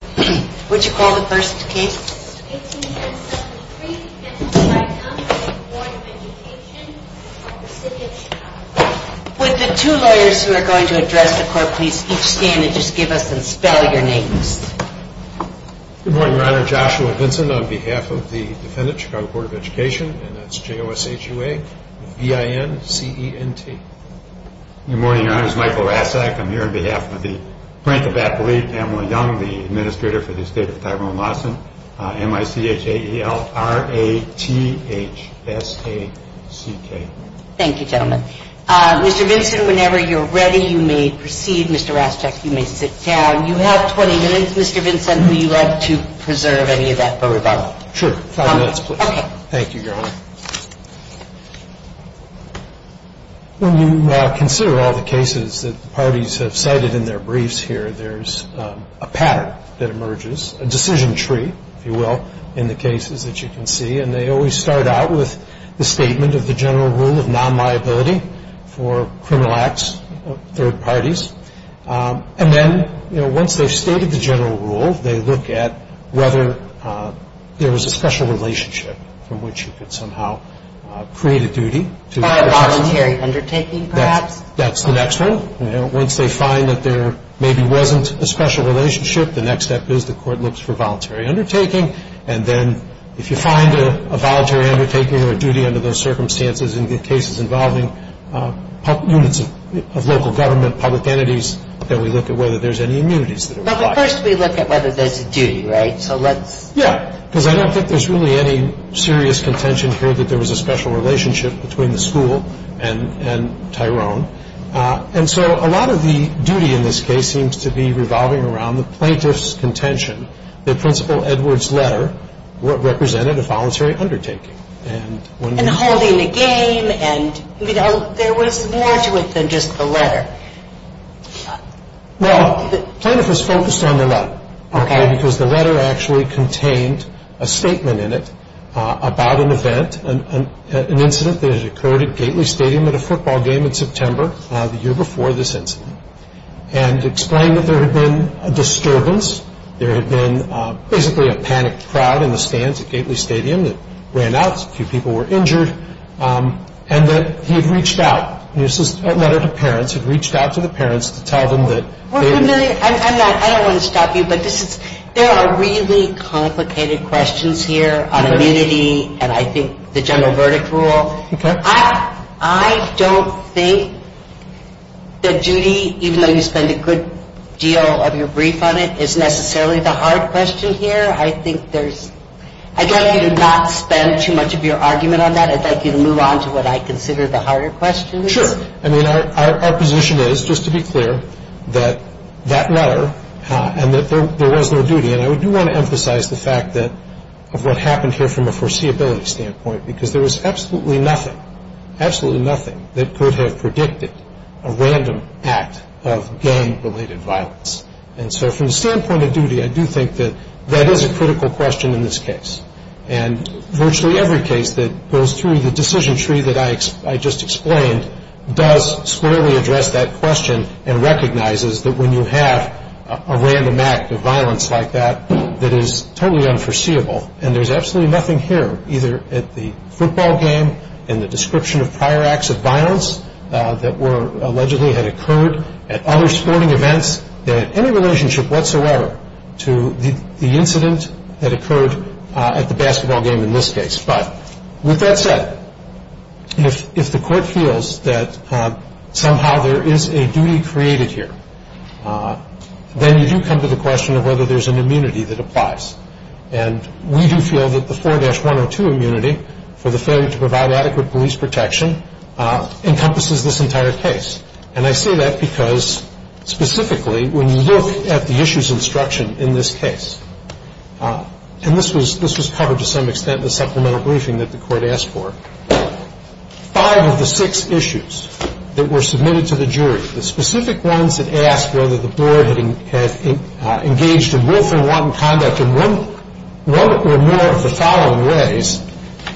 Would the two lawyers who are going to address the court please each stand and just give us and spell your names. Good morning, Your Honor. Joshua Vinson on behalf of the defendant, Chicago Board of Education, and that's J-O-S-H-U-A-V-I-N-C-E-N-T. Good morning, Your Honor. This is Michael Raschak. I'm here on behalf of the plaintiff at belief, Pamela Young, the administrator for the estate of Tyrone Lawson, M-I-C-H-A-E-L-R-A-T-H-S-A-C-K. Thank you, gentlemen. Mr. Vinson, whenever you're ready, you may proceed. Mr. Raschak, you may sit down. You have 20 minutes. Mr. Vinson, would you like to preserve any of that for rebuttal? Sure. Five minutes, please. Thank you, Your Honor. When you consider all the cases that parties have cited in their briefs here, there's a pattern that emerges, a decision tree, if you will, in the cases that you can see. And they always start out with the statement of the general rule of non-liability for criminal acts of third parties. And then, you know, once they've stated the general rule, they look at whether there was a special relationship from which you could somehow create a duty. By a voluntary undertaking, perhaps? That's the next one. Once they find that there maybe wasn't a special relationship, the next step is the court looks for voluntary undertaking. And then, if you find a voluntary undertaking or a duty under those circumstances in the cases involving units of local government, public entities, then we look at whether there's any immunities that are required. But first we look at whether there's a duty, right? So let's... Yeah. Because I don't think there's really any serious contention here that there was a special relationship between the school and Tyrone. And so a lot of the duty in this case seems to be revolving around the plaintiff's contention that Principal Edwards' letter represented a voluntary undertaking. And holding the game and, you know, there was more to it than just the letter. Well, the plaintiff was focused on the letter. Okay. Because the letter actually contained a statement in it about an event, an incident that had occurred at Gately Stadium at a football game in September, the year before this incident. And explained that there had been a disturbance, there had been basically a panicked crowd in the stands at Gately Stadium that ran out, a few people were injured, and that he had reached out. A letter to parents, had reached out to the parents to tell them that... I don't want to stop you, but there are really complicated questions here on immunity and I think the general verdict rule. Okay. I don't think that duty, even though you spend a good deal of your brief on it, is necessarily the hard question here. I think there's... I'd like you to not spend too much of your argument on that. I'd like you to move on to what I consider the harder questions. Sure. I mean, our position is, just to be clear, that that letter, and that there was no duty, and I do want to emphasize the fact that, of what happened here from a foreseeability standpoint, because there was absolutely nothing, absolutely nothing, that could have predicted a random act of gang-related violence. And so from the standpoint of duty, I do think that that is a critical question in this case. And virtually every case that goes through the decision tree that I just explained does squarely address that question and recognizes that when you have a random act of violence like that, that is totally unforeseeable. And there's absolutely nothing here, either at the football game, in the description of prior acts of violence that allegedly had occurred at other sporting events, that had any relationship whatsoever to the incident that occurred at the basketball game in this case. But with that said, if the court feels that somehow there is a duty created here, then you do come to the question of whether there's an immunity that applies. And we do feel that the 4-102 immunity for the failure to provide adequate police protection encompasses this entire case. And I say that because, specifically, when you look at the issues instruction in this case, and this was covered to some extent in the supplemental briefing that the court asked for, five of the six issues that were submitted to the jury, the specific ones that asked whether the board had engaged in willful and wanton conduct in one or more of the following ways,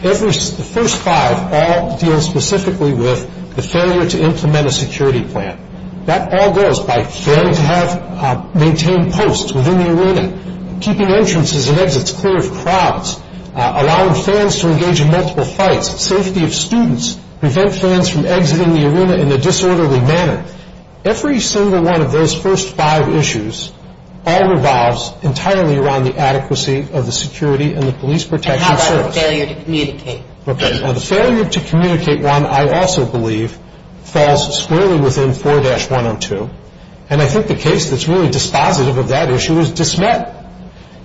the first five all deal specifically with the failure to implement a security plan. That all goes by failing to have maintained posts within the arena, keeping entrances and exits clear of crowds, allowing fans to engage in multiple fights, safety of students, prevent fans from exiting the arena in a disorderly manner. Every single one of those first five issues all revolves entirely around the adequacy of the security and the police protection service. And how about the failure to communicate? The failure to communicate one, I also believe, falls squarely within 4-102. And I think the case that's really dispositive of that issue is Dismet.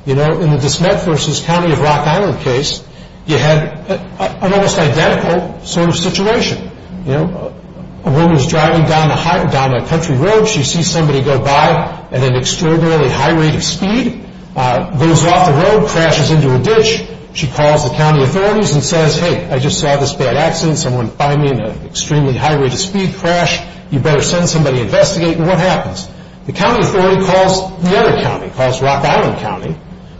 You know, in the Dismet versus County of Rock Island case, you had an almost identical sort of situation. You know, a woman's driving down a country road. She sees somebody go by at an extraordinarily high rate of speed. Goes off the road, crashes into a ditch. She calls the county authorities and says, hey, I just saw this bad accident. Someone fined me an extremely high rate of speed crash. You better send somebody to investigate. And what happens? The county authority calls the other county, calls Rock Island County,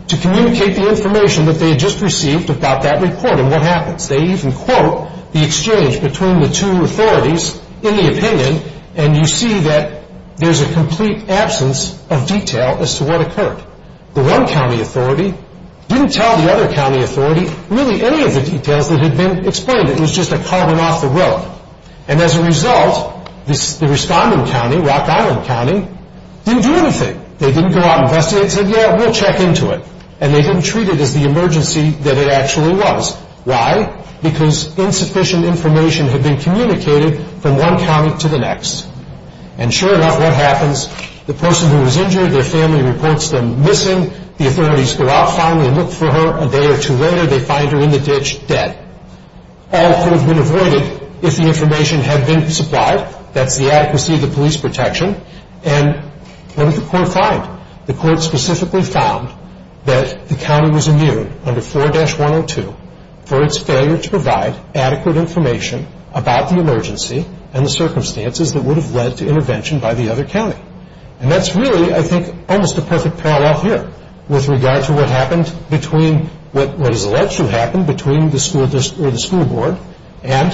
to communicate the information that they had just received about that report. And what happens? They even quote the exchange between the two authorities in the opinion, and you see that there's a complete absence of detail as to what occurred. The one county authority didn't tell the other county authority really any of the details that had been explained. It was just a car went off the road. And as a result, the responding county, Rock Island County, didn't do anything. They didn't go out and investigate and say, yeah, we'll check into it. And they didn't treat it as the emergency that it actually was. Why? Because insufficient information had been communicated from one county to the next. And sure enough, what happens? The person who was injured, their family reports them missing. The authorities go out finally and look for her. A day or two later, they find her in the ditch, dead. All could have been avoided if the information had been supplied. That's the adequacy of the police protection. And what did the court find? The court specifically found that the county was immune under 4-102 for its failure to provide adequate information about the emergency and the circumstances that would have led to intervention by the other county. And that's really, I think, almost a perfect parallel here with regard to what has alleged to have happened between the school board and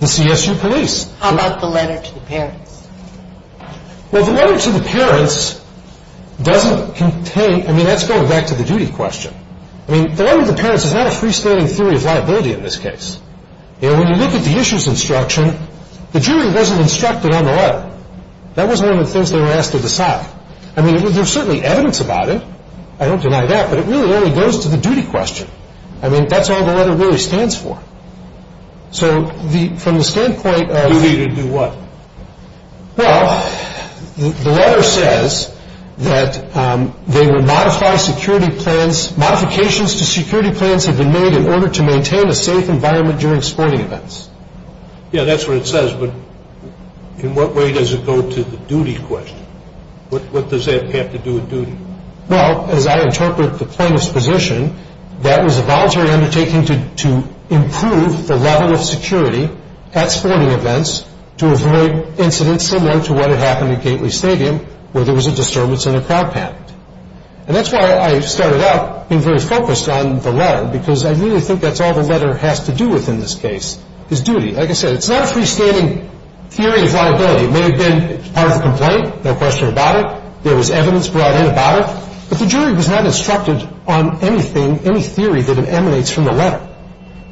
the CSU police. How about the letter to the parents? Well, the letter to the parents doesn't contain – I mean, that's going back to the duty question. I mean, the letter to the parents is not a freestanding theory of liability in this case. You know, when you look at the issues instruction, the jury wasn't instructed on the letter. That wasn't one of the things they were asked to decide. I mean, there's certainly evidence about it. I don't deny that, but it really only goes to the duty question. I mean, that's all the letter really stands for. So from the standpoint of – Duty to do what? Well, the letter says that they would modify security plans. Modifications to security plans had been made in order to maintain a safe environment during sporting events. Yeah, that's what it says, but in what way does it go to the duty question? What does that have to do with duty? Well, as I interpret the plaintiff's position, that was a voluntary undertaking to improve the level of security at sporting events to avoid incidents similar to what had happened at Gately Stadium where there was a disturbance in a crowd pact. And that's why I started out being very focused on the letter because I really think that's all the letter has to do with in this case is duty. Like I said, it's not a freestanding theory of liability. It may have been part of the complaint, no question about it. There was evidence brought in about it. But the jury was not instructed on anything, any theory that emanates from the letter.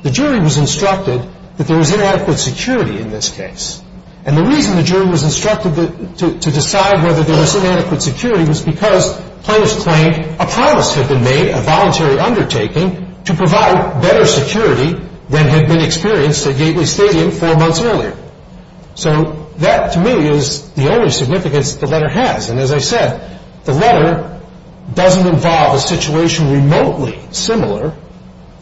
The jury was instructed that there was inadequate security in this case. And the reason the jury was instructed to decide whether there was inadequate security was because plaintiffs claimed a promise had been made, a voluntary undertaking, to provide better security than had been experienced at Gately Stadium four months earlier. So that to me is the only significance the letter has. And as I said, the letter doesn't involve a situation remotely similar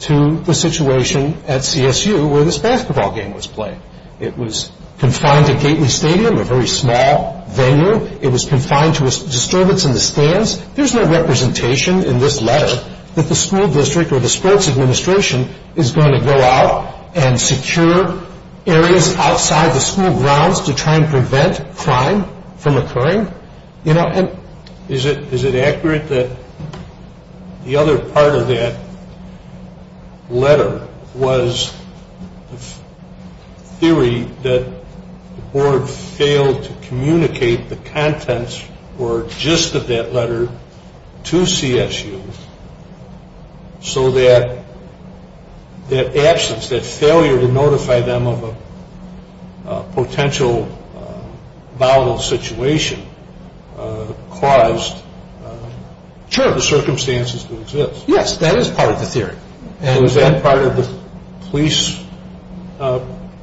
to the situation at CSU where this basketball game was played. It was confined to Gately Stadium, a very small venue. It was confined to a disturbance in the stands. There's no representation in this letter that the school district or the sports administration is going to go out and secure areas outside the school grounds to try and prevent crime from occurring. Is it accurate that the other part of that letter was the theory that the board failed to communicate the contents or gist of that letter to CSU so that absence, that failure to notify them of a potential volatile situation caused the circumstances to exist? Yes, that is part of the theory. Was that part of the police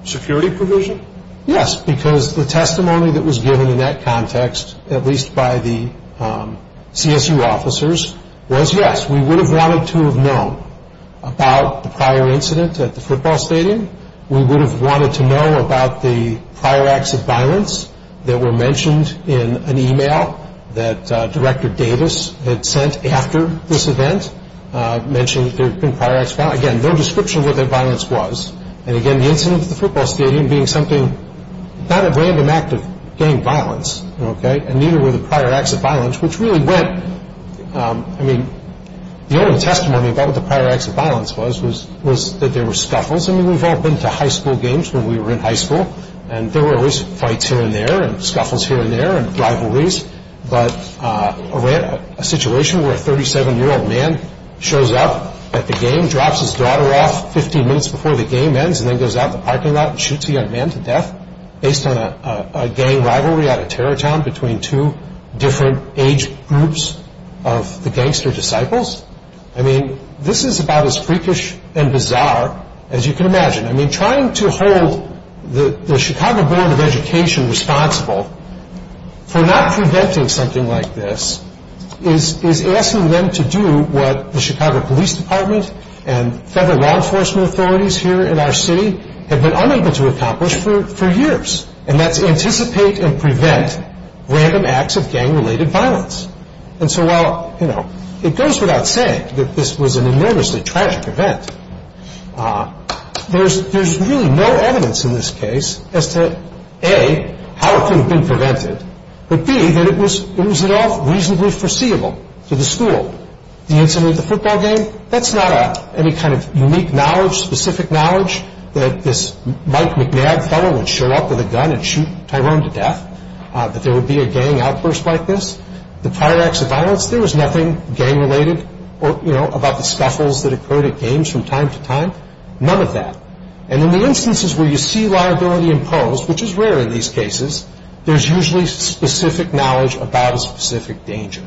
security provision? Yes, because the testimony that was given in that context, at least by the CSU officers, was yes. We would have wanted to have known about the prior incident at the football stadium. We would have wanted to know about the prior acts of violence that were mentioned in an e-mail that Director Davis had sent after this event, mentioning there had been prior acts of violence. Again, no description of what that violence was. And again, the incident at the football stadium being something, not a random act of gang violence, and neither were the prior acts of violence, which really went, I mean, the only testimony about what the prior acts of violence was was that there were scuffles. I mean, we've all been to high school games when we were in high school, and there were always fights here and there and scuffles here and there and rivalries. But a situation where a 37-year-old man shows up at the game, drops his daughter off 15 minutes before the game ends, and then goes out in the parking lot and shoots a young man to death based on a gang rivalry at a terror town between two different age groups of the gangster disciples. I mean, this is about as freakish and bizarre as you can imagine. I mean, trying to hold the Chicago Board of Education responsible for not preventing something like this is asking them to do what the Chicago Police Department and federal law enforcement authorities here in our city have been unable to accomplish for years, and that's anticipate and prevent random acts of gang-related violence. And so while, you know, it goes without saying that this was an enormously tragic event, there's really no evidence in this case as to, A, how it could have been prevented, but, B, that it was at all reasonably foreseeable to the school. The incident at the football game, that's not any kind of unique knowledge, specific knowledge, that this Mike McNabb fellow would show up with a gun and shoot Tyrone to death, that there would be a gang outburst like this. The prior acts of violence, there was nothing gang-related, you know, about the scuffles that occurred at games from time to time, none of that. And in the instances where you see liability imposed, which is rare in these cases, there's usually specific knowledge about a specific danger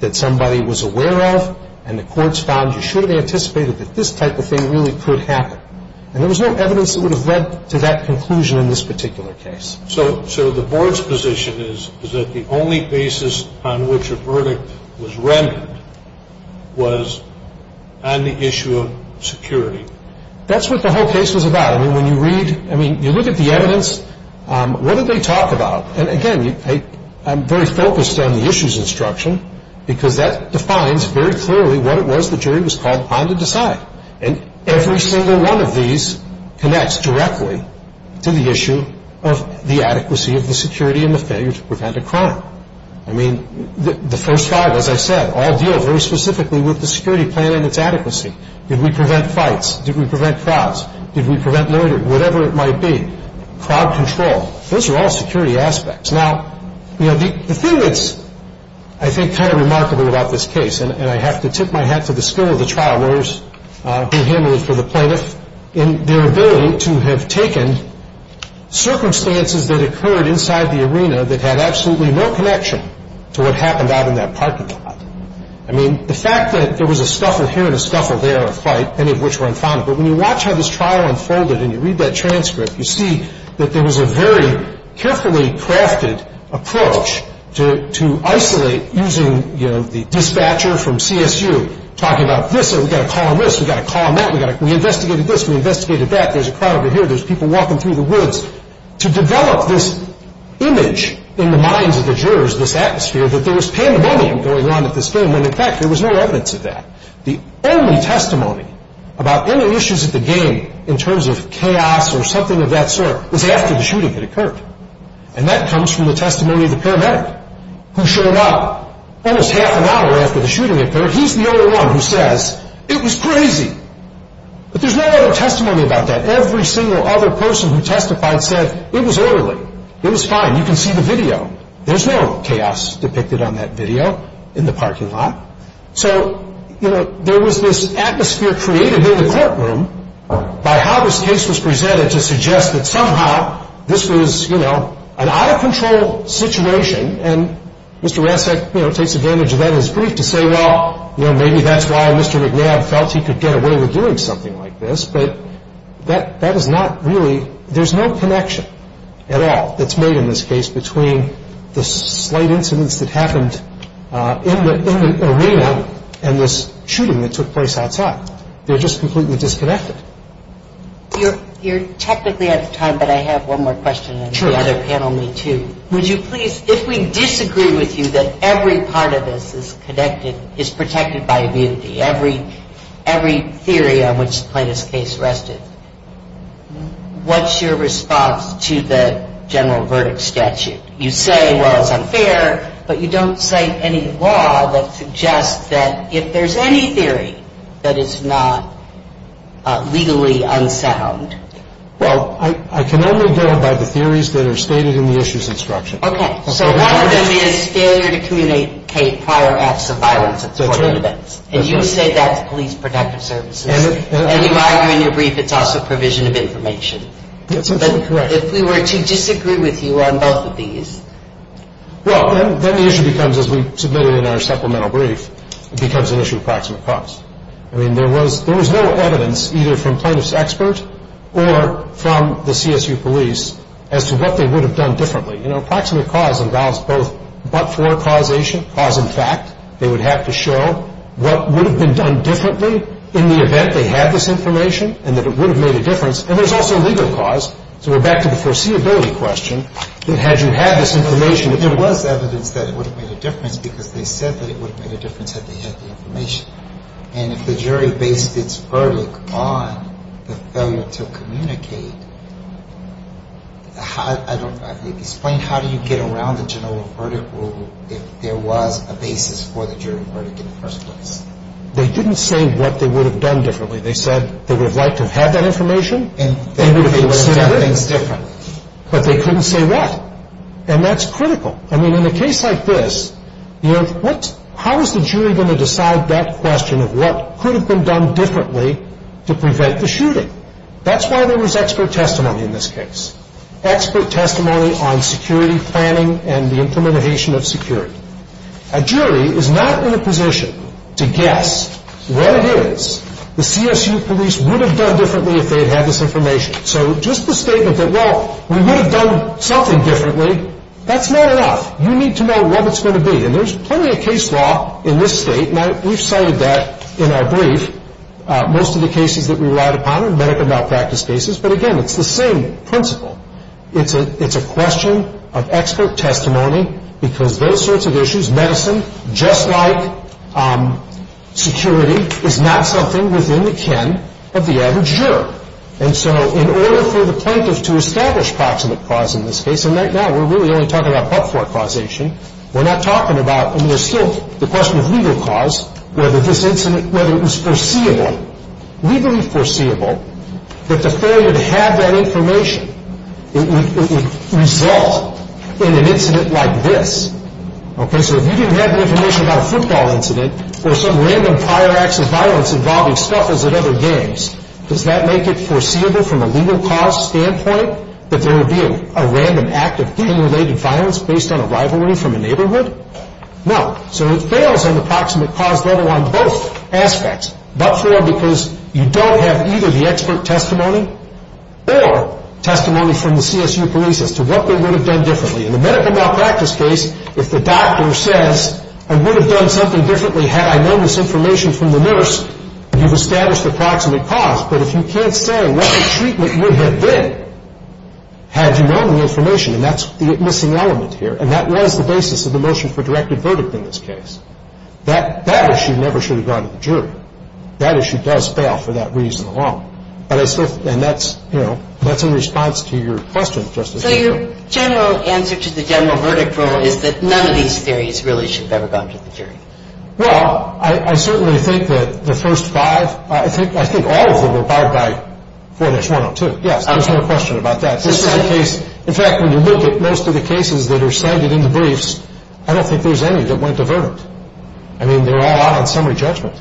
that somebody was aware of and the courts found you should have anticipated that this type of thing really could happen. And there was no evidence that would have led to that conclusion in this particular case. So the board's position is that the only basis on which a verdict was rendered was on the issue of security. That's what the whole case was about. I mean, when you read, I mean, you look at the evidence, what did they talk about? And, again, I'm very focused on the issues instruction because that defines very clearly what it was the jury was called upon to decide. And every single one of these connects directly to the issue of the adequacy of the security and the failure to prevent a crime. I mean, the first five, as I said, all deal very specifically with the security plan and its adequacy. Did we prevent fights? Did we prevent frauds? Did we prevent loitering? Whatever it might be. Crowd control. Those are all security aspects. Now, you know, the thing that's, I think, kind of remarkable about this case, and I have to tip my hat to the skill of the trial lawyers who handled it for the plaintiff, in their ability to have taken circumstances that occurred inside the arena that had absolutely no connection to what happened out in that parking lot. I mean, the fact that there was a scuffle here and a scuffle there, a fight, many of which were unfounded. But when you watch how this trial unfolded and you read that transcript, you see that there was a very carefully crafted approach to isolate using, you know, the dispatcher from CSU talking about this and we've got to call him this, we've got to call him that, we investigated this, we investigated that, there's a crowd over here, there's people walking through the woods, to develop this image in the minds of the jurors, this atmosphere, that there was pandemonium going on at this game, when, in fact, there was no evidence of that. The only testimony about any issues at the game in terms of chaos or something of that sort was after the shooting had occurred. And that comes from the testimony of the paramedic who showed up almost half an hour after the shooting occurred. He's the only one who says, it was crazy. But there's no other testimony about that. Every single other person who testified said, it was orderly, it was fine, you can see the video. There's no chaos depicted on that video in the parking lot. So, you know, there was this atmosphere created in the courtroom by how this case was presented to suggest that somehow this was, you know, an out-of-control situation and Mr. Rancic, you know, takes advantage of that in his brief to say, well, you know, maybe that's why Mr. McNabb felt he could get away with doing something like this, but that is not really, there's no connection at all that's made in this case between the slight incidents that happened in the arena and this shooting that took place outside. They're just completely disconnected. You're technically out of time, but I have one more question and the other panel may too. Would you please, if we disagree with you that every part of this is connected, is protected by immunity, every theory on which the plaintiff's case rested, what's your response to the general verdict statute? You say, well, it's unfair, but you don't cite any law that suggests that if there's any theory that it's not legally unsound. Well, I can only go by the theories that are stated in the issues instruction. Okay, so one of them is failure to communicate prior acts of violence at court events. That's right. And you say that's police protective services. And you argue in your brief it's also provision of information. That's absolutely correct. But if we were to disagree with you on both of these. Well, then the issue becomes, as we submitted in our supplemental brief, it becomes an issue of proximate cause. I mean, there was no evidence either from plaintiff's expert or from the CSU police as to what they would have done differently. You know, proximate cause involves both but-for causation, cause and fact. They would have to show what would have been done differently in the event they had this information and that it would have made a difference. And there's also legal cause. So we're back to the foreseeability question. Had you had this information, there was evidence that it would have made a difference because they said that it would have made a difference had they had the information. And if the jury based its verdict on the failure to communicate, explain how do you get around the general verdict rule if there was a basis for the jury verdict in the first place. They didn't say what they would have done differently. They said they would have liked to have had that information. And they would have been able to do things differently. But they couldn't say what. And that's critical. I mean, in a case like this, you know, how is the jury going to decide that question of what could have been done differently to prevent the shooting? That's why there was expert testimony in this case. Expert testimony on security planning and the implementation of security. A jury is not in a position to guess what it is the CSU police would have done differently if they had had this information. So just the statement that, well, we would have done something differently, that's not enough. You need to know what it's going to be. And there's plenty of case law in this state, and we've cited that in our brief, most of the cases that we relied upon in medical malpractice cases. But, again, it's the same principle. It's a question of expert testimony because those sorts of issues, medicine just like security, is not something within the ken of the average juror. And so in order for the plaintiff to establish proximate cause in this case, and right now we're really only talking about but-for causation, we're not talking about, I mean, there's still the question of legal cause, whether this incident, whether it was foreseeable, legally foreseeable, that the failure to have that information would result in an incident like this. Okay, so if you didn't have the information about a football incident or some random prior acts of violence involving scuffles at other games, does that make it foreseeable from a legal cause standpoint that there would be a random act of gang-related violence based on a rivalry from a neighborhood? No. So it fails on the proximate cause level on both aspects, but-for because you don't have either the expert testimony or testimony from the CSU police as to what they would have done differently. In the medical malpractice case, if the doctor says, I would have done something differently had I known this information from the nurse, you've established the proximate cause. But if you can't say what the treatment would have been had you known the information, and that's the missing element here, and that was the basis of the motion for directed verdict in this case, that issue never should have gone to the jury. That issue does fail for that reason alone. And that's in response to your question, Justice Ginsburg. So your general answer to the general verdict rule is that none of these theories really should have ever gone to the jury? Well, I certainly think that the first five, I think all of them were barred by 4-102. Yes, there's no question about that. In fact, when you look at most of the cases that are cited in the briefs, I don't think there's any that went to verdict. I mean, they're all out on summary judgment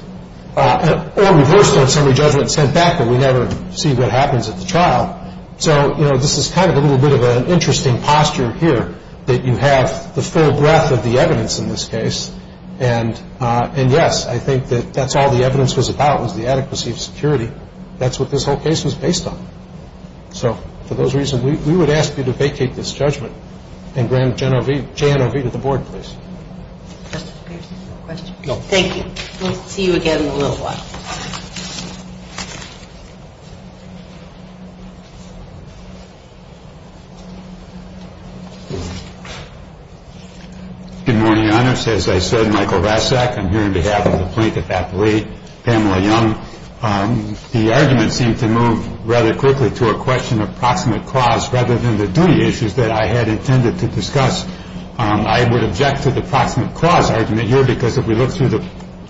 or reversed on summary judgment sent back, but we never see what happens at the trial. So, you know, this is kind of a little bit of an interesting posture here that you have the full breadth of the evidence in this case. And, yes, I think that that's all the evidence was about was the adequacy of security. That's what this whole case was based on. So, for those reasons, we would ask you to vacate this judgment and grant J.N.O.V. to the board, please. Justice Pierce, do you have a question? No. Thank you. We'll see you again in a little while. Good morning, Your Honor. As I said, Michael Rasack. I'm here on behalf of the Plaintiff's Affiliate, Pamela Young. The argument seemed to move rather quickly to a question of proximate cause rather than the duty issues that I had intended to discuss. I would object to the proximate cause argument here because if we look through the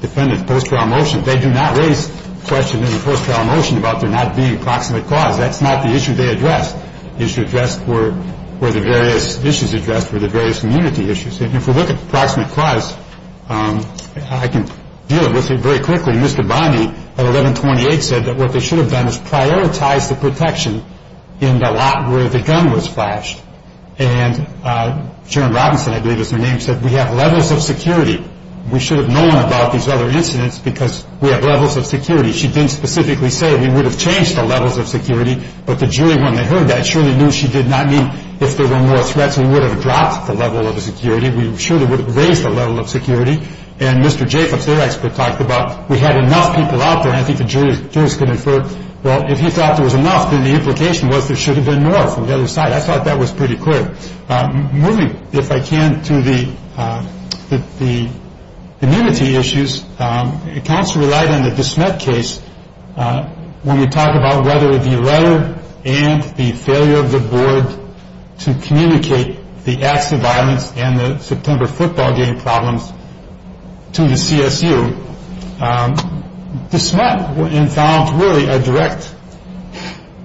defendant's post-trial motion, they do not raise the question in the post-trial motion about there not being proximate cause. That's not the issue they addressed. The issue addressed were the various issues addressed were the various immunity issues. And if we look at the proximate cause, I can deal with it very quickly. Mr. Bondy at 1128 said that what they should have done was prioritize the protection in the lot where the gun was flashed. And Sharon Robinson, I believe is her name, said we have levels of security. We should have known about these other incidents because we have levels of security. She didn't specifically say we would have changed the levels of security, but the jury, when they heard that, surely knew she did not mean if there were more threats, we would have dropped the level of security. We surely would have raised the level of security. And Mr. Jacobs, their expert, talked about we had enough people out there, and I think the jurors could infer, well, if he thought there was enough, then the implication was there should have been more from the other side. I thought that was pretty clear. Moving, if I can, to the immunity issues, counsel relied on the DeSmet case when we talk about whether the letter and the failure of the board to communicate the acts of violence and the September football game problems to the CSU. DeSmet involved really a direct,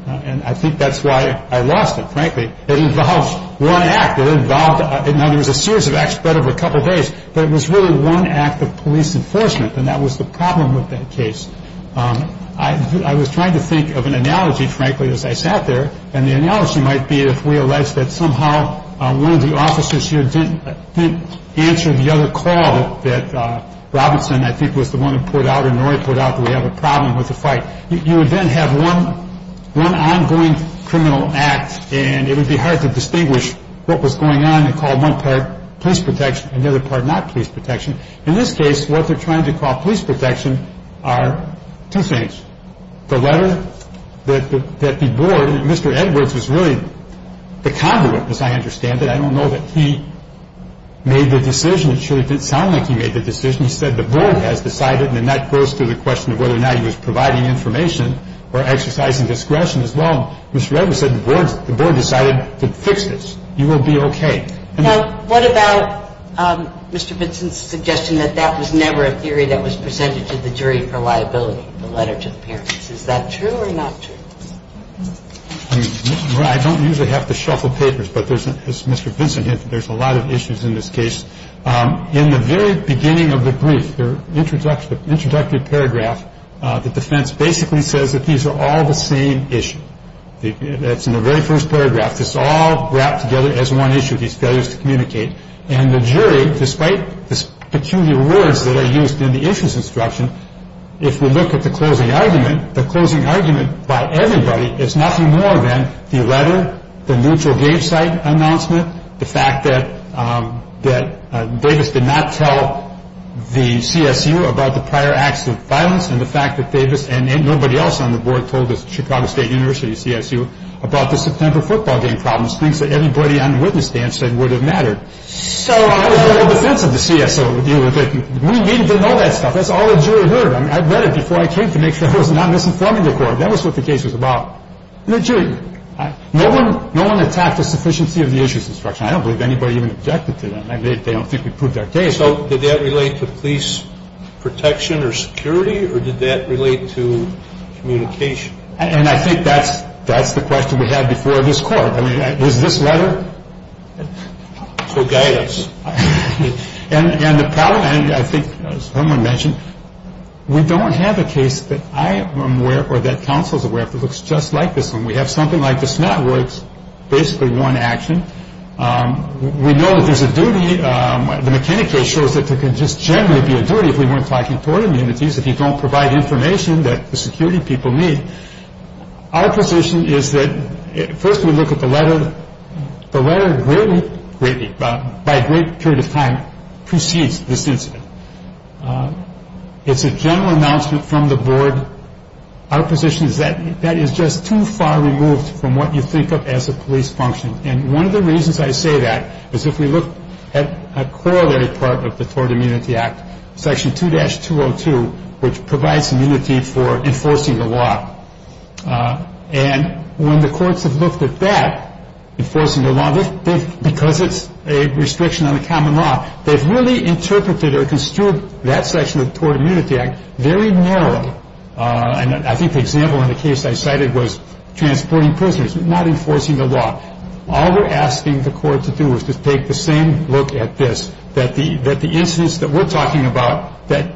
and I think that's why I lost it, frankly. It involved one act. Now, there was a series of acts spread over a couple of days, but it was really one act of police enforcement, and that was the problem with that case. I was trying to think of an analogy, frankly, as I sat there, and the analogy might be if we allege that somehow one of the officers here didn't answer the other call that Robinson, I think, was the one who put out or Norrie put out that we have a problem with the fight. You would then have one ongoing criminal act, and it would be hard to distinguish what was going on and call one part police protection and the other part not police protection. In this case, what they're trying to call police protection are two things. The letter that the board, Mr. Edwards was really the conduit, as I understand it. I don't know that he made the decision. It sure didn't sound like he made the decision. He said the board has decided, and that goes to the question of whether or not he was providing information or exercising discretion as well. Mr. Edwards said the board decided to fix this. You will be okay. Now, what about Mr. Vinson's suggestion that that was never a theory that was presented to the jury for liability, the letter to the parents? Is that true or not true? I don't usually have to shuffle papers, but as Mr. Vinson hinted, there's a lot of issues in this case. In the very beginning of the brief, the introductory paragraph, the defense basically says that these are all the same issue. That's in the very first paragraph. It's all wrapped together as one issue, these failures to communicate. And the jury, despite the peculiar words that are used in the issues instruction, if we look at the closing argument, the closing argument by everybody is nothing more than the letter, the neutral game site announcement, the fact that Davis did not tell the CSU about the prior acts of violence and the fact that Davis and nobody else on the board told the Chicago State University CSU about the September football game problems, things that everybody on the witness stand said would have mattered. So how does the whole defense of the CSU deal with it? We need to know that stuff. That's all the jury heard. I read it before I came to make sure I was not misinforming the court. That was what the case was about. The jury, no one attacked the sufficiency of the issues instruction. I don't believe anybody even objected to that. They don't think we proved our case. So did that relate to police protection or security, or did that relate to communication? And I think that's the question we had before this court. I mean, was this letter? So guide us. And the problem, and I think someone mentioned, we don't have a case that I am aware or that counsel is aware of that looks just like this one. We have something like this now where it's basically one action. We know that there's a duty. The McKinney case shows that there can just generally be a duty if we weren't talking toward immunities, if you don't provide information that the security people need. Our position is that first we look at the letter. The letter greatly, by a great period of time, precedes this incident. It's a general announcement from the board. Our position is that that is just too far removed from what you think of as a police function. And one of the reasons I say that is if we look at a corollary part of the Tort Immunity Act, Section 2-202, which provides immunity for enforcing the law. And when the courts have looked at that, enforcing the law, because it's a restriction on the common law, they've really interpreted or construed that section of the Tort Immunity Act very narrowly. I think the example in the case I cited was transporting prisoners, not enforcing the law. All we're asking the court to do is to take the same look at this, that the incidents that we're talking about that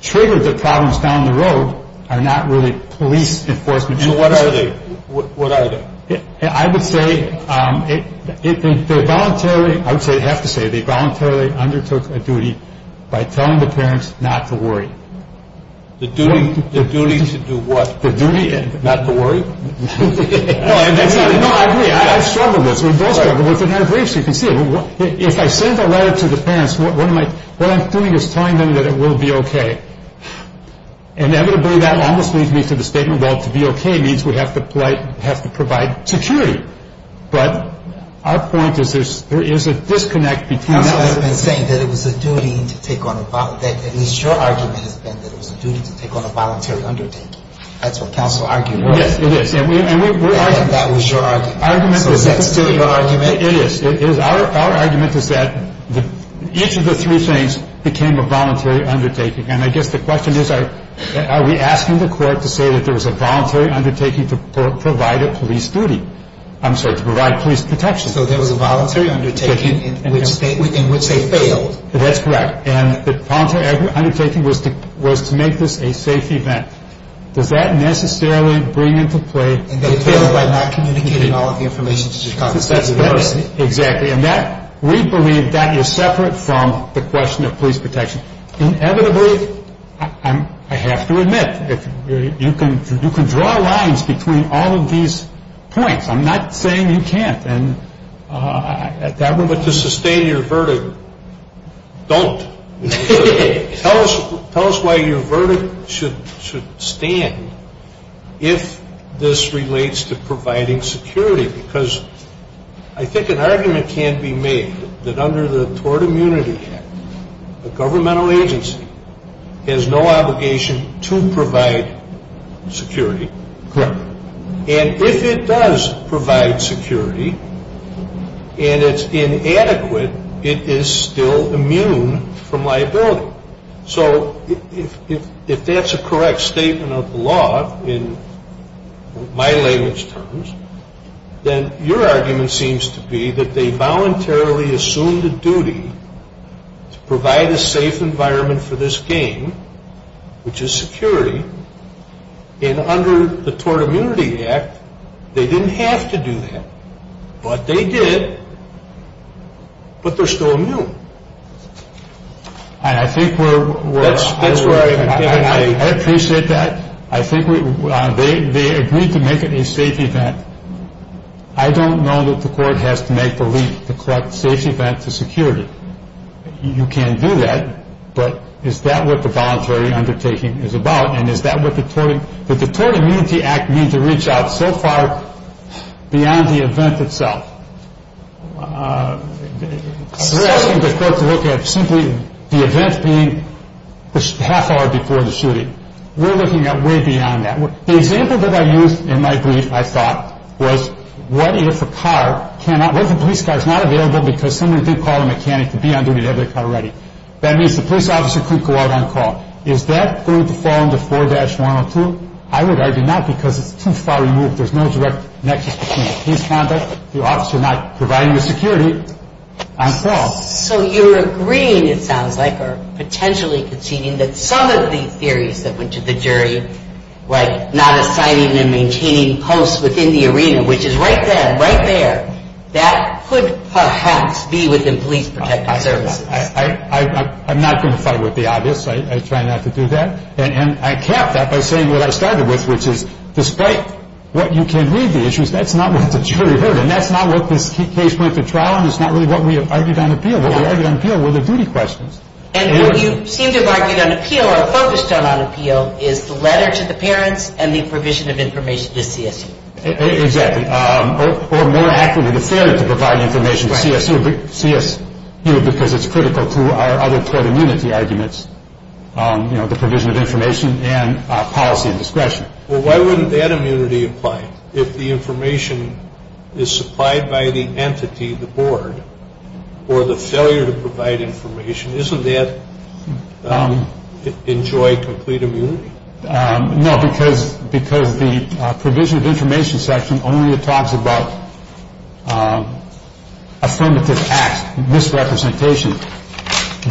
trigger the problems down the road are not really police enforcement. So what are they? I would say they voluntarily undertook a duty by telling the parents not to worry. The duty to do what? Not to worry? No, I agree. I've struggled with this. We've both struggled with it. If I send a letter to the parents, what I'm doing is telling them that it will be okay. Inevitably, that almost leads me to the statement, well, to be okay means we have to provide security. But our point is there is a disconnect between... Counsel has been saying that it was a duty to take on a voluntary undertaking. That's what counsel argued. And that was your argument. So is that still your argument? It is. Our argument is that each of the three things became a voluntary undertaking. And I guess the question is are we asking the court to say that there was a voluntary undertaking to provide a police duty? I'm sorry, to provide police protection. So there was a voluntary undertaking in which they failed. That's correct. And the voluntary undertaking was to make this a safe event. Does that necessarily bring into play... Exactly. And we believe that is separate from the question of police protection. Inevitably, I have to admit, you can draw lines between all of these points. I'm not saying you can't. But to sustain your verdict, don't. Tell us why your verdict should stand if this relates to providing security. Because I think an argument can be made that under the Tort Immunity Act, the governmental agency has no obligation to provide security. Correct. And if it does provide security and it's inadequate, it is still immune from liability. So if that's a correct statement of the law in my language terms, then your argument seems to be that they voluntarily assumed a duty to provide a safe environment for this game, which is security, and under the Tort Immunity Act, they didn't have to do that. But they did, but they're still immune. And I think we're... That's where I agree. I appreciate that. They agreed to make it a safe event. I don't know that the court has to make the leap to collect a safe event to security. You can do that. But is that what the voluntary undertaking is about? And is that what the Tort Immunity Act means to reach out so far beyond the event itself? They're asking the court to look at simply the event being a half hour before the shooting. We're looking at way beyond that. The example that I used in my brief, I thought, was what if a car cannot... That means the police officer couldn't go out on call. Is that going to fall under 4-102? I would argue not because it's too far removed. There's no direct connection between his conduct, the officer not providing the security, on call. So you're agreeing, it sounds like, or potentially conceding that some of the theories that went to the jury, like not assigning and maintaining posts within the arena, which is right there, right there, that could perhaps be within police protective services. I'm not going to fight with the obvious. I try not to do that. And I cap that by saying what I started with, which is despite what you can read the issues, that's not what the jury heard, and that's not what this case went to trial, and it's not really what we have argued on appeal. What we argued on appeal were the duty questions. And what you seem to have argued on appeal or focused on on appeal is the letter to the parents and the provision of information to CSU. Exactly. Or more accurately, the failure to provide information to CSU because it's critical to our other court immunity arguments, you know, the provision of information and policy and discretion. Well, why wouldn't that immunity apply? If the information is supplied by the entity, the board, or the failure to provide information, isn't that enjoy complete immunity? No, because the provision of information section only talks about affirmative acts, misrepresentation.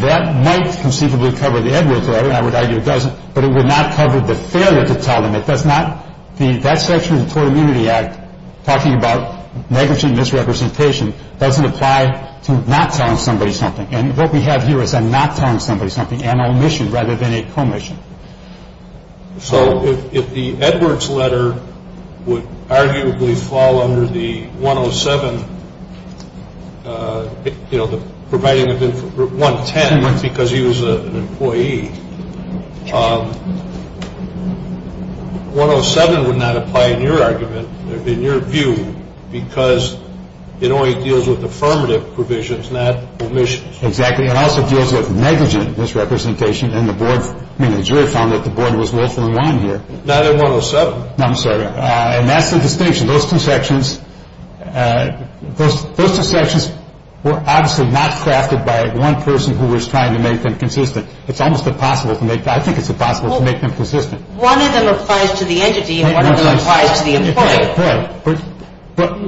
That might conceivably cover the Edwards letter, and I would argue it doesn't, but it would not cover the failure to tell them. It does not. That section of the Court of Immunity Act talking about negligent misrepresentation doesn't apply to not telling somebody something. And what we have here is I'm not telling somebody something, an omission rather than a commission. So if the Edwards letter would arguably fall under the 107, you know, the providing of information, 110 because he was an employee, 107 would not apply in your argument, in your view, because it only deals with affirmative provisions, not omissions. Exactly. It also deals with negligent misrepresentation, and the board, I mean, the jury found that the board was lawful in line here. Not in 107. No, I'm sorry. And that's the distinction. Those two sections were obviously not crafted by one person who was trying to make them consistent. It's almost impossible to make. I think it's impossible to make them consistent. One of them applies to the entity, and one of them applies to the employee. Right, right. But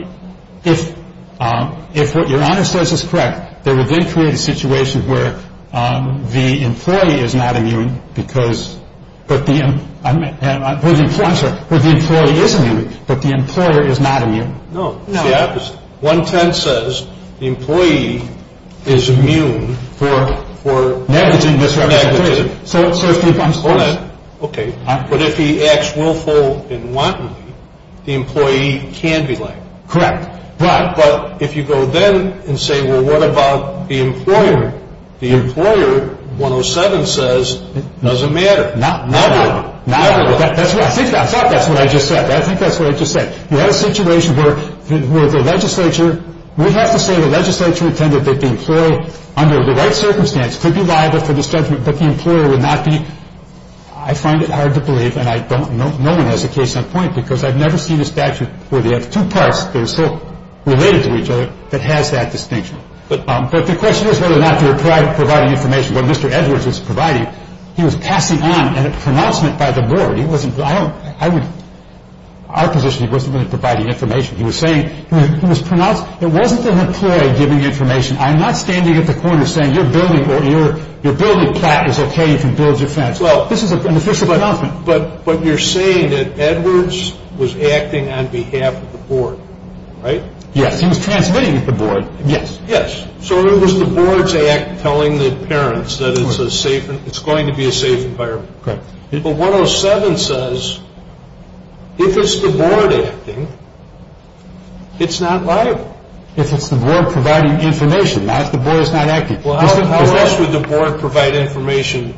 if what Your Honor says is correct, there would then create a situation where the employee is not immune because but the employee is immune, but the employer is not immune. No, it's the opposite. 110 says the employee is immune for negligent misrepresentation. Hold it. Okay. But if he acts willful and wantonly, the employee can be labeled. Correct. Right. But if you go then and say, well, what about the employer? The employer, 107 says, doesn't matter. Not at all. Not at all. I think that's what I just said. I think that's what I just said. You had a situation where the legislature, we have to say the legislature intended that the employee, under the right circumstance, could be liable for this judgment, but the employer would not be. I find it hard to believe, and no one has a case on point, because I've never seen a statute where they have two parts that are so related to each other that has that distinction. But the question is whether or not you're providing information. What Mr. Edwards was providing, he was passing on a pronouncement by the board. Our position, he wasn't really providing information. He was saying, it wasn't the employer giving information. I'm not standing at the corner saying your building plot is okay, you can build your fence. This is an official pronouncement. But you're saying that Edwards was acting on behalf of the board, right? Yes. He was transmitting at the board. Yes. Yes. So it was the board's act telling the parents that it's going to be a safe environment. Correct. But 107 says, if it's the board acting, it's not liable. If it's the board providing information, not if the board is not acting. Well, how else would the board provide information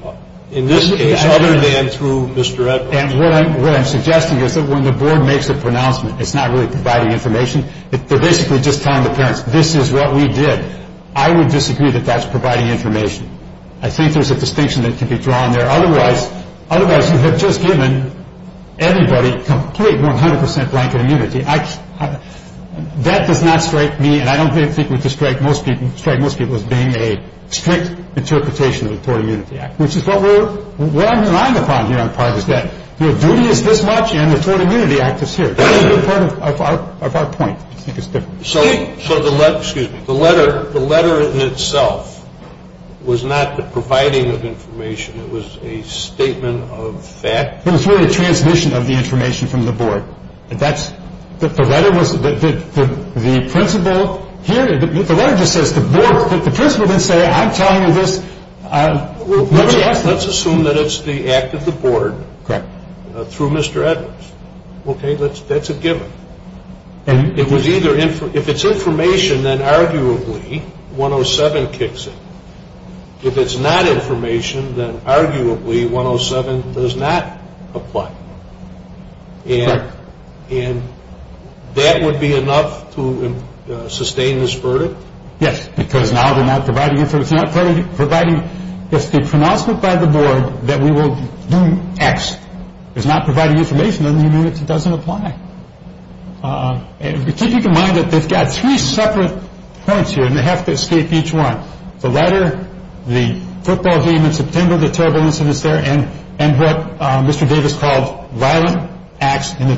in this case other than through Mr. Edwards? And what I'm suggesting is that when the board makes a pronouncement, it's not really providing information. They're basically just telling the parents, this is what we did. I would disagree that that's providing information. I think there's a distinction that can be drawn there. Otherwise, you have just given everybody complete 100% blanket immunity. That does not strike me, and I don't think it would strike most people, as being a strict interpretation of the Tort Immunity Act, which is what I'm relying upon here on part is that your duty is this much, and the Tort Immunity Act is here. That would be part of our point. I think it's different. So the letter in itself was not the providing of information. It was a statement of fact? It was really a transmission of the information from the board. The letter just says the principal didn't say, I'm telling you this. Let's assume that it's the act of the board through Mr. Edwards. Okay, that's a given. If it's information, then arguably 107 kicks in. If it's not information, then arguably 107 does not apply. Correct. And that would be enough to sustain this verdict? Yes, because now they're not providing information. If the pronouncement by the board that we will do X is not providing information, then the immunity doesn't apply. Keeping in mind that they've got three separate points here, and they have to escape each one. The letter, the football game in September, the terrible incidents there, and what Mr. Davis called violent acts in the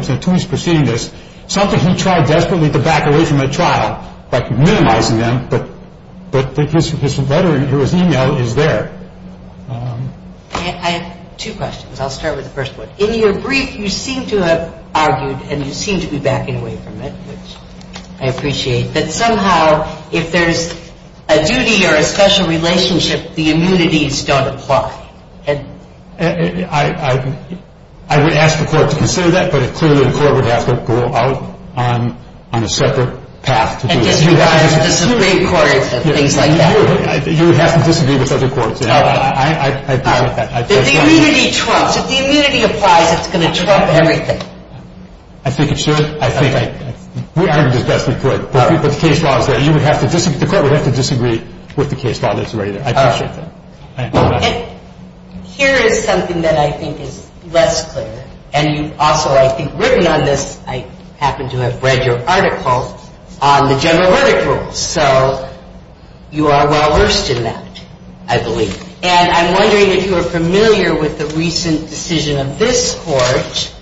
two weeks preceding this, something he tried desperately to back away from at trial by minimizing them, but his email is there. I have two questions. I'll start with the first one. In your brief, you seem to have argued, and you seem to be backing away from it, which I appreciate, that somehow if there's a duty or a special relationship, the immunities don't apply. I would ask the court to consider that, but clearly the court would have to go out on a separate path to do it. And disagree with the Supreme Court and things like that. You would have to disagree with other courts. I agree with that. If the immunity applies, it's going to trump everything. I think it should. We argued as best we could, but the case law is there. The court would have to disagree with the case law that's already there. I appreciate that. Here is something that I think is less clear, and you've also, I think, written on this. I happen to have read your article on the general verdict rule. So you are well versed in that, I believe. And I'm wondering if you are familiar with the recent decision of this court.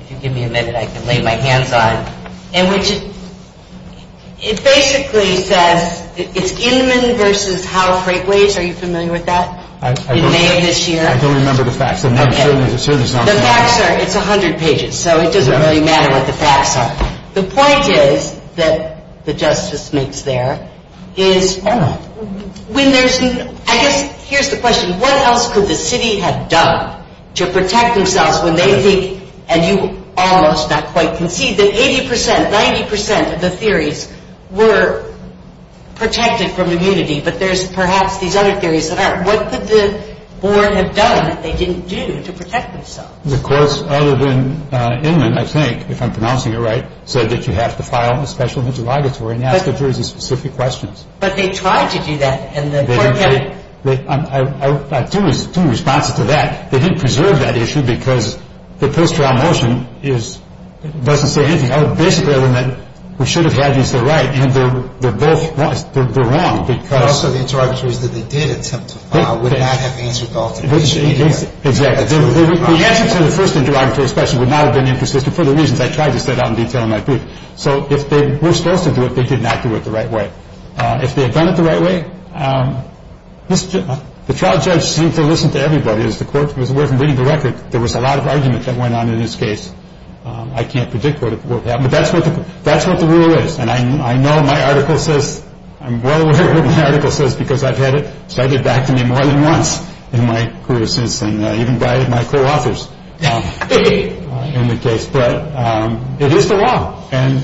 If you give me a minute, I can lay my hands on it. It basically says it's Inman v. Howell Freightways. Are you familiar with that? I don't remember the facts. The facts are, it's 100 pages, so it doesn't really matter what the facts are. The point is that the Justice makes there is when there's, I guess, here's the question. What else could the city have done to protect themselves when they think, and you almost not quite concede that 80%, 90% of the theories were protected from immunity, but there's perhaps these other theories that aren't. What could the board have done that they didn't do to protect themselves? The courts, other than Inman, I think, if I'm pronouncing it right, said that you have to file a special interrogatory and ask the jury specific questions. But they tried to do that. I have two responses to that. They didn't preserve that issue because the post-trial motion doesn't say anything. I would basically have meant we should have had these there right, and they're both wrong. But also the interrogatories that they did attempt to file would not have answered all the questions. Exactly. The answer to the first interrogatory especially would not have been inconsistent for the reasons I tried to set out in detail in my brief. So if they were supposed to do it, they did not do it the right way. If they had done it the right way, the trial judge seemed to listen to everybody. As the court was aware from reading the record, there was a lot of argument that went on in this case. I can't predict what would happen, but that's what the rule is. And I know my article says, I'm well aware of what my article says because I've had it cited back to me more than once in my career since, and even by my co-authors in the case. But it is the law, and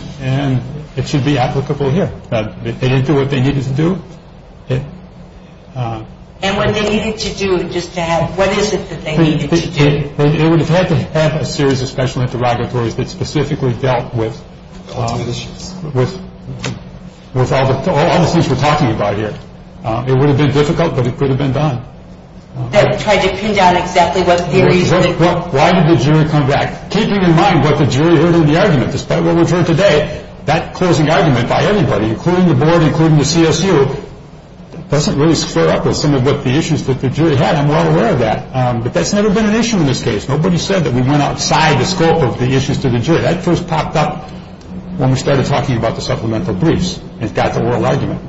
it should be applicable here. If they didn't do what they needed to do. And what they needed to do, just to have, what is it that they needed to do? They would have had to have a series of special interrogatories that specifically dealt with all the things we're talking about here. It would have been difficult, but it could have been done. That tried to pin down exactly what theories were. Why did the jury come back? Keeping in mind what the jury heard in the argument, despite what we've heard today, that closing argument by everybody, including the board, including the CSU, doesn't really square up with some of the issues that the jury had. I'm well aware of that. But that's never been an issue in this case. Nobody said that we went outside the scope of the issues to the jury. That first popped up when we started talking about the supplemental briefs. It got the oral argument.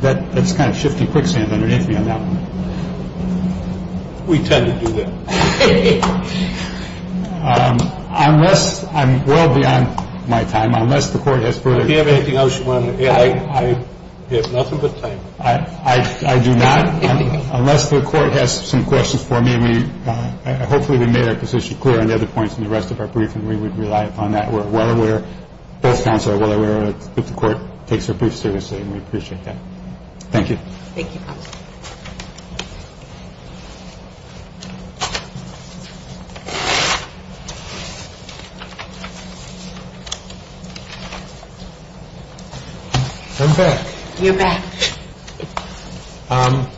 That's kind of shifty quicksand underneath me on that one. We tend to do that. Unless I'm well beyond my time, unless the court has further questions. Do you have anything else you want to say? I have nothing but time. I do not. Unless the court has some questions for me, hopefully we made our position clear on the other points in the rest of our briefing, we would rely upon that. We're well aware, both counsel are well aware, that the court takes our brief seriously, and we appreciate that. Thank you. Thank you, counsel. I'm back. You're back. I'll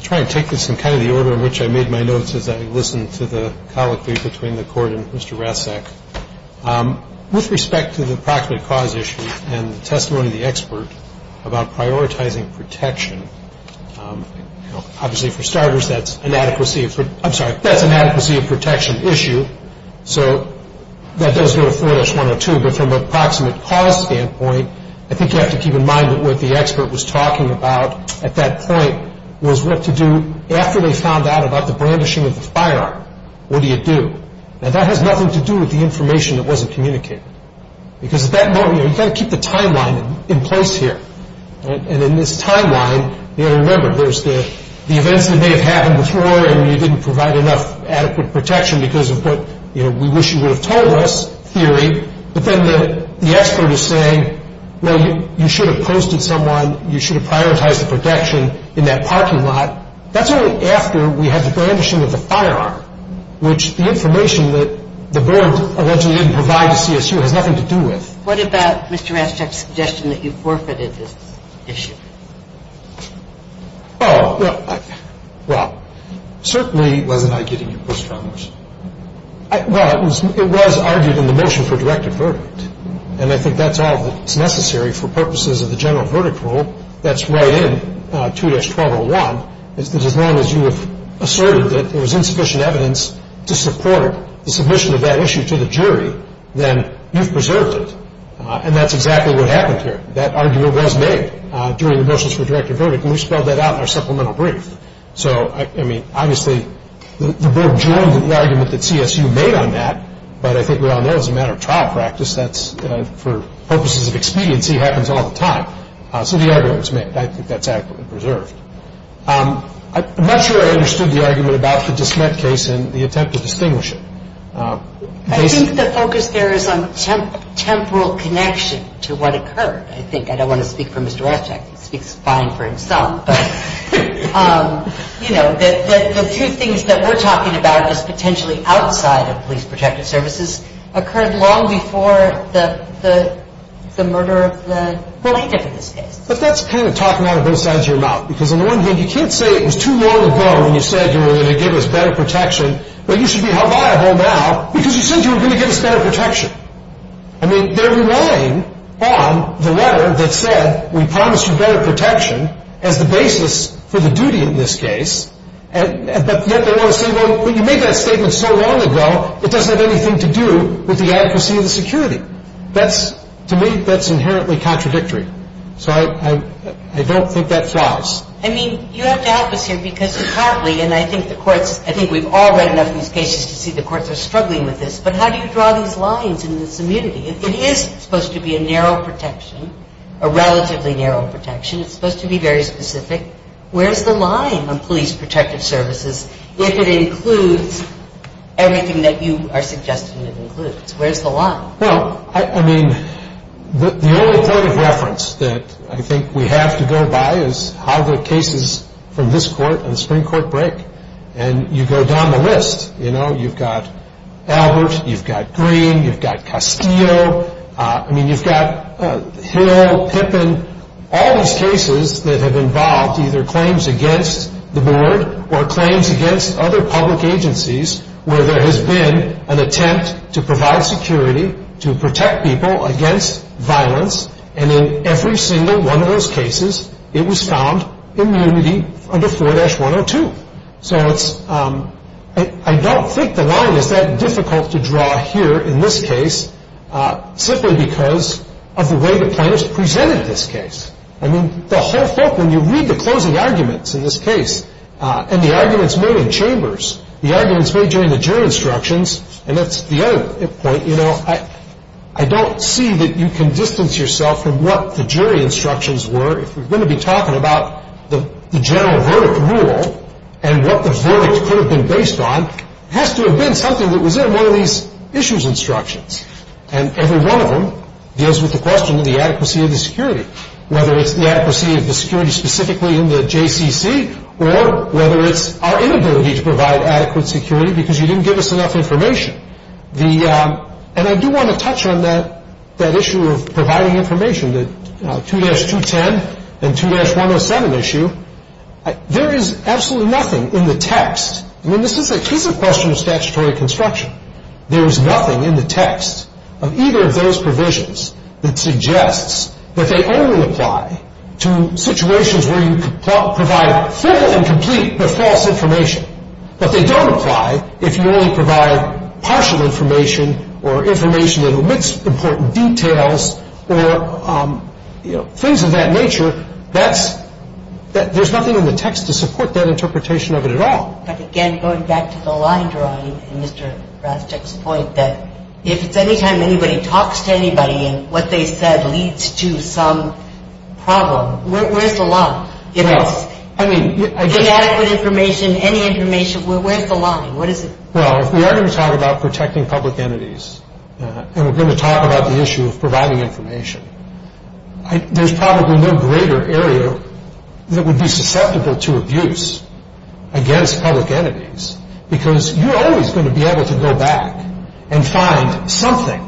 try to take this in kind of the order in which I made my notes as I listened to the colloquy between the court and Mr. Rasek. With respect to the proximate cause issue and the testimony of the expert about prioritizing protection, obviously for starters that's inadequacy. I'm sorry, for starters. That's an adequacy of protection issue, so that does go to 4-102. But from a proximate cause standpoint, I think you have to keep in mind that what the expert was talking about at that point was what to do after they found out about the brandishing of the firearm. What do you do? Now, that has nothing to do with the information that wasn't communicated. Because at that moment, you've got to keep the timeline in place here. And in this timeline, you've got to remember, there's the events that may have happened before and you didn't provide enough adequate protection because of what we wish you would have told us, theory. But then the expert is saying, well, you should have posted someone, you should have prioritized the protection in that parking lot. That's only after we had the brandishing of the firearm, which the information that the board allegedly didn't provide to CSU has nothing to do with. What about Mr. Rasek's suggestion that you forfeited this issue? Oh, well, certainly. Wasn't I getting your push from this? Well, it was argued in the motion for directed verdict. And I think that's all that's necessary for purposes of the general verdict rule that's right in 2-1201, is that as long as you have asserted that there was insufficient evidence to support the submission of that issue to the jury, then you've preserved it. And that's exactly what happened here. That argument was made during the motions for directed verdict, and we spelled that out in our supplemental brief. So, I mean, obviously the board joined in the argument that CSU made on that, but I think we all know as a matter of trial practice that's for purposes of expediency happens all the time. So the argument was made. I think that's accurately preserved. I'm not sure I understood the argument about the disment case and the attempt to distinguish it. I think the focus there is on temporal connection to what occurred. I don't want to speak for Mr. Ravchack. He speaks fine for himself. But, you know, the few things that we're talking about as potentially outside of police protected services occurred long before the murder of the plaintiff in this case. But that's kind of talking out of both sides of your mouth, because on the one hand you can't say it was too long ago when you said you were going to give us better protection, but you should be held liable now because you said you were going to give us better protection. I mean, they're relying on the letter that said we promised you better protection as the basis for the duty in this case, but yet they want to say, well, you made that statement so long ago, it doesn't have anything to do with the accuracy of the security. That's, to me, that's inherently contradictory. So I don't think that flies. I mean, you have to help us here because partly, and I think the courts, I think we've all read enough of these cases to see the courts are struggling with this, but how do you draw these lines in this immunity? It is supposed to be a narrow protection, a relatively narrow protection. It's supposed to be very specific. Where's the line on police protected services if it includes everything that you are suggesting it includes? Where's the line? Well, I mean, the only point of reference that I think we have to go by is how the cases from this court and the Supreme Court break, and you go down the list. You know, you've got Albert. You've got Green. You've got Castillo. I mean, you've got Hill, Pippin, all these cases that have involved either claims against the board or claims against other public agencies where there has been an attempt to provide security, to protect people against violence, and in every single one of those cases it was found immunity under 4-102. So I don't think the line is that difficult to draw here in this case simply because of the way the plaintiffs presented this case. I mean, the whole thing, when you read the closing arguments in this case and the arguments made in chambers, the arguments made during the jury instructions, and that's the other point, you know, I don't see that you can distance yourself from what the jury instructions were. If we're going to be talking about the general verdict rule and what the verdict could have been based on, it has to have been something that was in one of these issues instructions, and every one of them deals with the question of the adequacy of the security, whether it's the adequacy of the security specifically in the JCCC or whether it's our inability to provide adequate security because you didn't give us enough information. And I do want to touch on that issue of providing information, the 2-210 and 2-107 issue. There is absolutely nothing in the text. I mean, this is a case of question of statutory construction. There is nothing in the text of either of those provisions that suggests that they only apply to situations where you provide full and complete but false information, but they don't apply if you only provide partial information or information that omits important details or, you know, things of that nature. There's nothing in the text to support that interpretation of it at all. But again, going back to the line drawing in Mr. Rastek's point, that if it's any time anybody talks to anybody and what they said leads to some problem, where's the line? If it's inadequate information, any information, where's the line? What is it? Well, if we are going to talk about protecting public entities and we're going to talk about the issue of providing information, there's probably no greater area that would be susceptible to abuse against public entities because you're always going to be able to go back and find something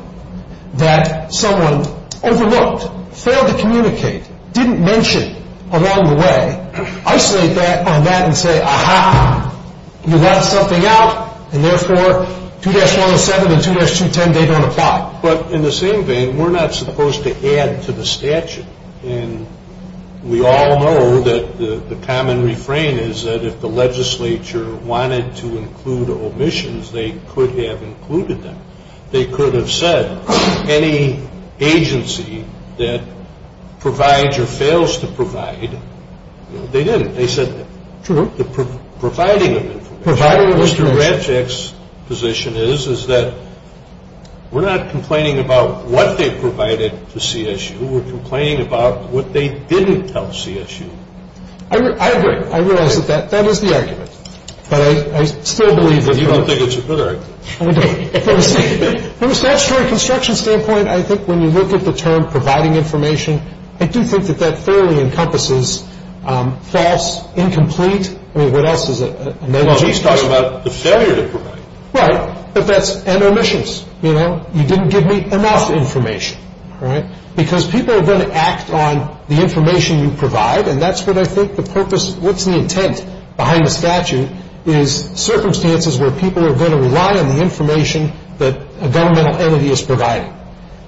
that someone overlooked, failed to communicate, didn't mention along the way, isolate that on that and say, aha, you let something out and therefore 2-107 and 2-210, they don't apply. But in the same vein, we're not supposed to add to the statute. And we all know that the common refrain is that if the legislature wanted to include omissions, they could have included them. They could have said any agency that provides or fails to provide, they didn't. They said the providing of information. Mr. Rancic's position is that we're not complaining about what they provided to CSU. We're complaining about what they didn't tell CSU. I agree. I realize that that is the argument. But I still believe that. But you don't think it's a good argument. I don't. From a statutory construction standpoint, I think when you look at the term providing information, I do think that that fairly encompasses false, incomplete, I mean, what else is it? Well, he's talking about the failure to provide. Right. But that's, and omissions. You know, you didn't give me enough information. All right? Because people are going to act on the information you provide, and that's what I think the purpose, what's the intent behind the statute, is circumstances where people are going to rely on the information that a governmental entity is providing.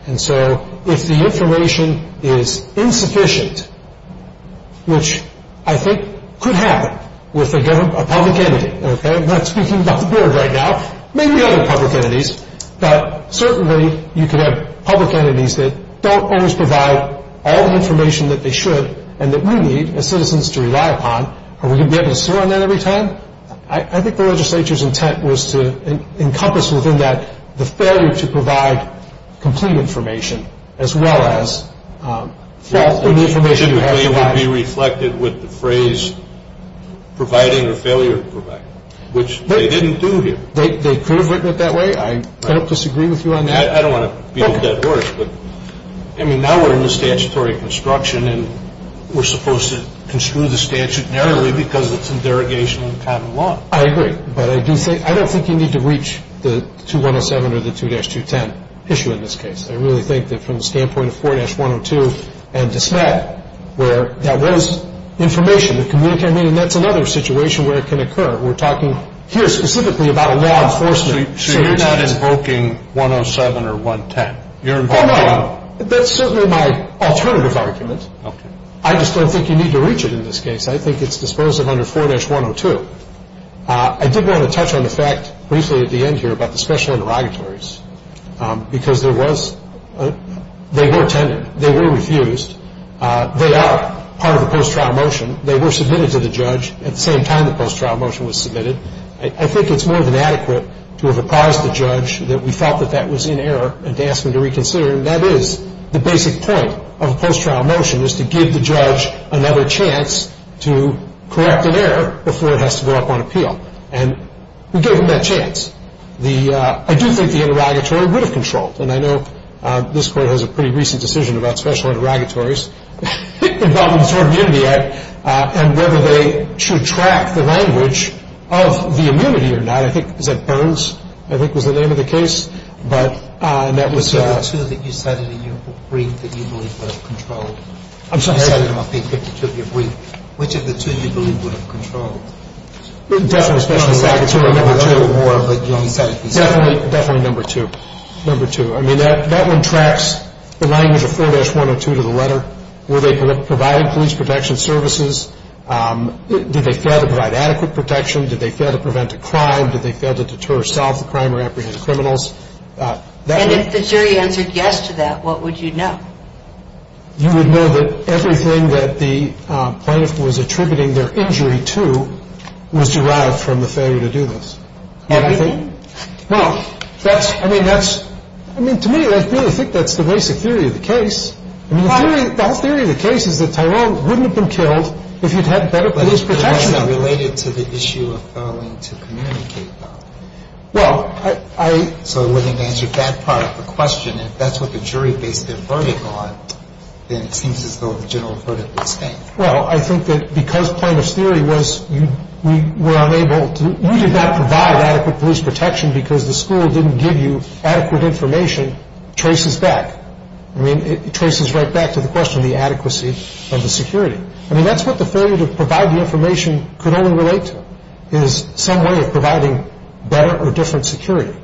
And so if the information is insufficient, which I think could happen with a public entity, okay? I'm not speaking about the board right now. Maybe other public entities. But certainly you could have public entities that don't always provide all the information that they should and that we need as citizens to rely upon. Are we going to be able to swear on that every time? I think the legislature's intent was to encompass within that the failure to provide complete information as well as false information you have to provide. It should be reflected with the phrase providing or failure to provide, which they didn't do here. They could have written it that way. I don't disagree with you on that. I don't want to be a dead horse, but, I mean, now we're in the statutory construction and we're supposed to construe the statute narrowly because it's in derogation of the patent law. I agree. But I do think, I don't think you need to reach the 2107 or the 2-210 issue in this case. I really think that from the standpoint of 4-102 and DeSmet where that was information that communicated to me and that's another situation where it can occur. We're talking here specifically about a law enforcement situation. So you're not invoking 107 or 110? That's certainly my alternative argument. I just don't think you need to reach it in this case. I think it's dispositive under 4-102. I did want to touch on the fact briefly at the end here about the special interrogatories because there was, they were refused. They are part of the post-trial motion. They were submitted to the judge at the same time the post-trial motion was submitted. I think it's more than adequate to have apprised the judge that we felt that that was in error and to ask him to reconsider and that is the basic point of a post-trial motion is to give the judge another chance to correct an error before it has to go up on appeal. And we gave him that chance. The, I do think the interrogatory would have controlled and I know this court has a pretty recent decision about special interrogatories involving the tort immunity act and whether they should track the language of the immunity or not. I think, is that Burns, I think was the name of the case? But, and that was... Which of the two that you cited in your brief that you believe would have controlled? I'm sorry? Which of the two you believe would have controlled? Definitely special interrogatory number two. Definitely number two. Number two. I mean, that one tracks the language of 4-102 to the letter. Were they providing police protection services? Did they fail to provide adequate protection? Did they fail to prevent a crime? Did they fail to deter or solve the crime or apprehend criminals? And if the jury answered yes to that, what would you know? You would know that everything that the plaintiff was attributing their injury to was derived from the failure to do this. Everything? No, that's, I mean, that's, I mean, to me, I really think that's the basic theory of the case. The whole theory of the case is that Tyrone wouldn't have been killed if he'd had better police protection. Related to the issue of failing to communicate, though. Well, I. So I wouldn't answer that part of the question. If that's what the jury based their verdict on, then it seems as though the general verdict was same. Well, I think that because plaintiff's theory was we were unable to, you did not provide adequate police protection because the school didn't give you adequate information, traces back. I mean, it traces right back to the question of the adequacy of the security. I mean, that's what the failure to provide the information could only relate to, is some way of providing better or different security.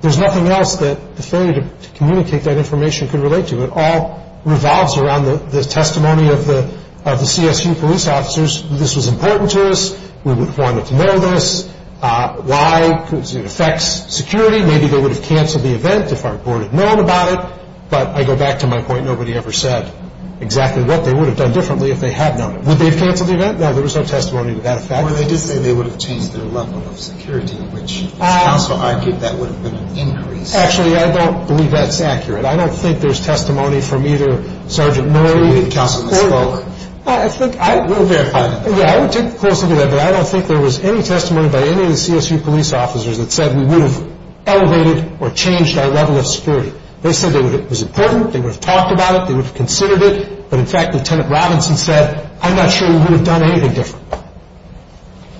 There's nothing else that the failure to communicate that information could relate to. It all revolves around the testimony of the CSU police officers. This was important to us. We would have wanted to know this. Why? Because it affects security. Maybe they would have canceled the event if our board had known about it. But I go back to my point. Nobody ever said exactly what they would have done differently if they had known. Would they have canceled the event? No, there was no testimony to that effect. Well, they did say they would have changed their level of security, which counsel argued that would have been an increase. Actually, I don't believe that's accurate. I don't think there's testimony from either Sergeant Murray. Counsel misspoke. We'll verify that. Yeah, I would take a close look at that, but I don't think there was any testimony by any of the CSU police officers that said we would have elevated or changed our level of security. They said it was important. They would have talked about it. They would have considered it. But, in fact, Lieutenant Robinson said, I'm not sure we would have done anything different.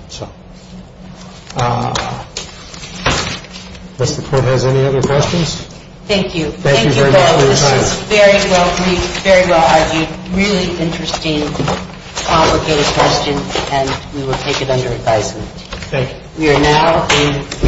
So unless the court has any other questions. Thank you. Thank you very much for your time. Thank you, Bill. This was a very well-read, very well-argued, really interesting, complicated question, and we will take it under advisement. Thank you.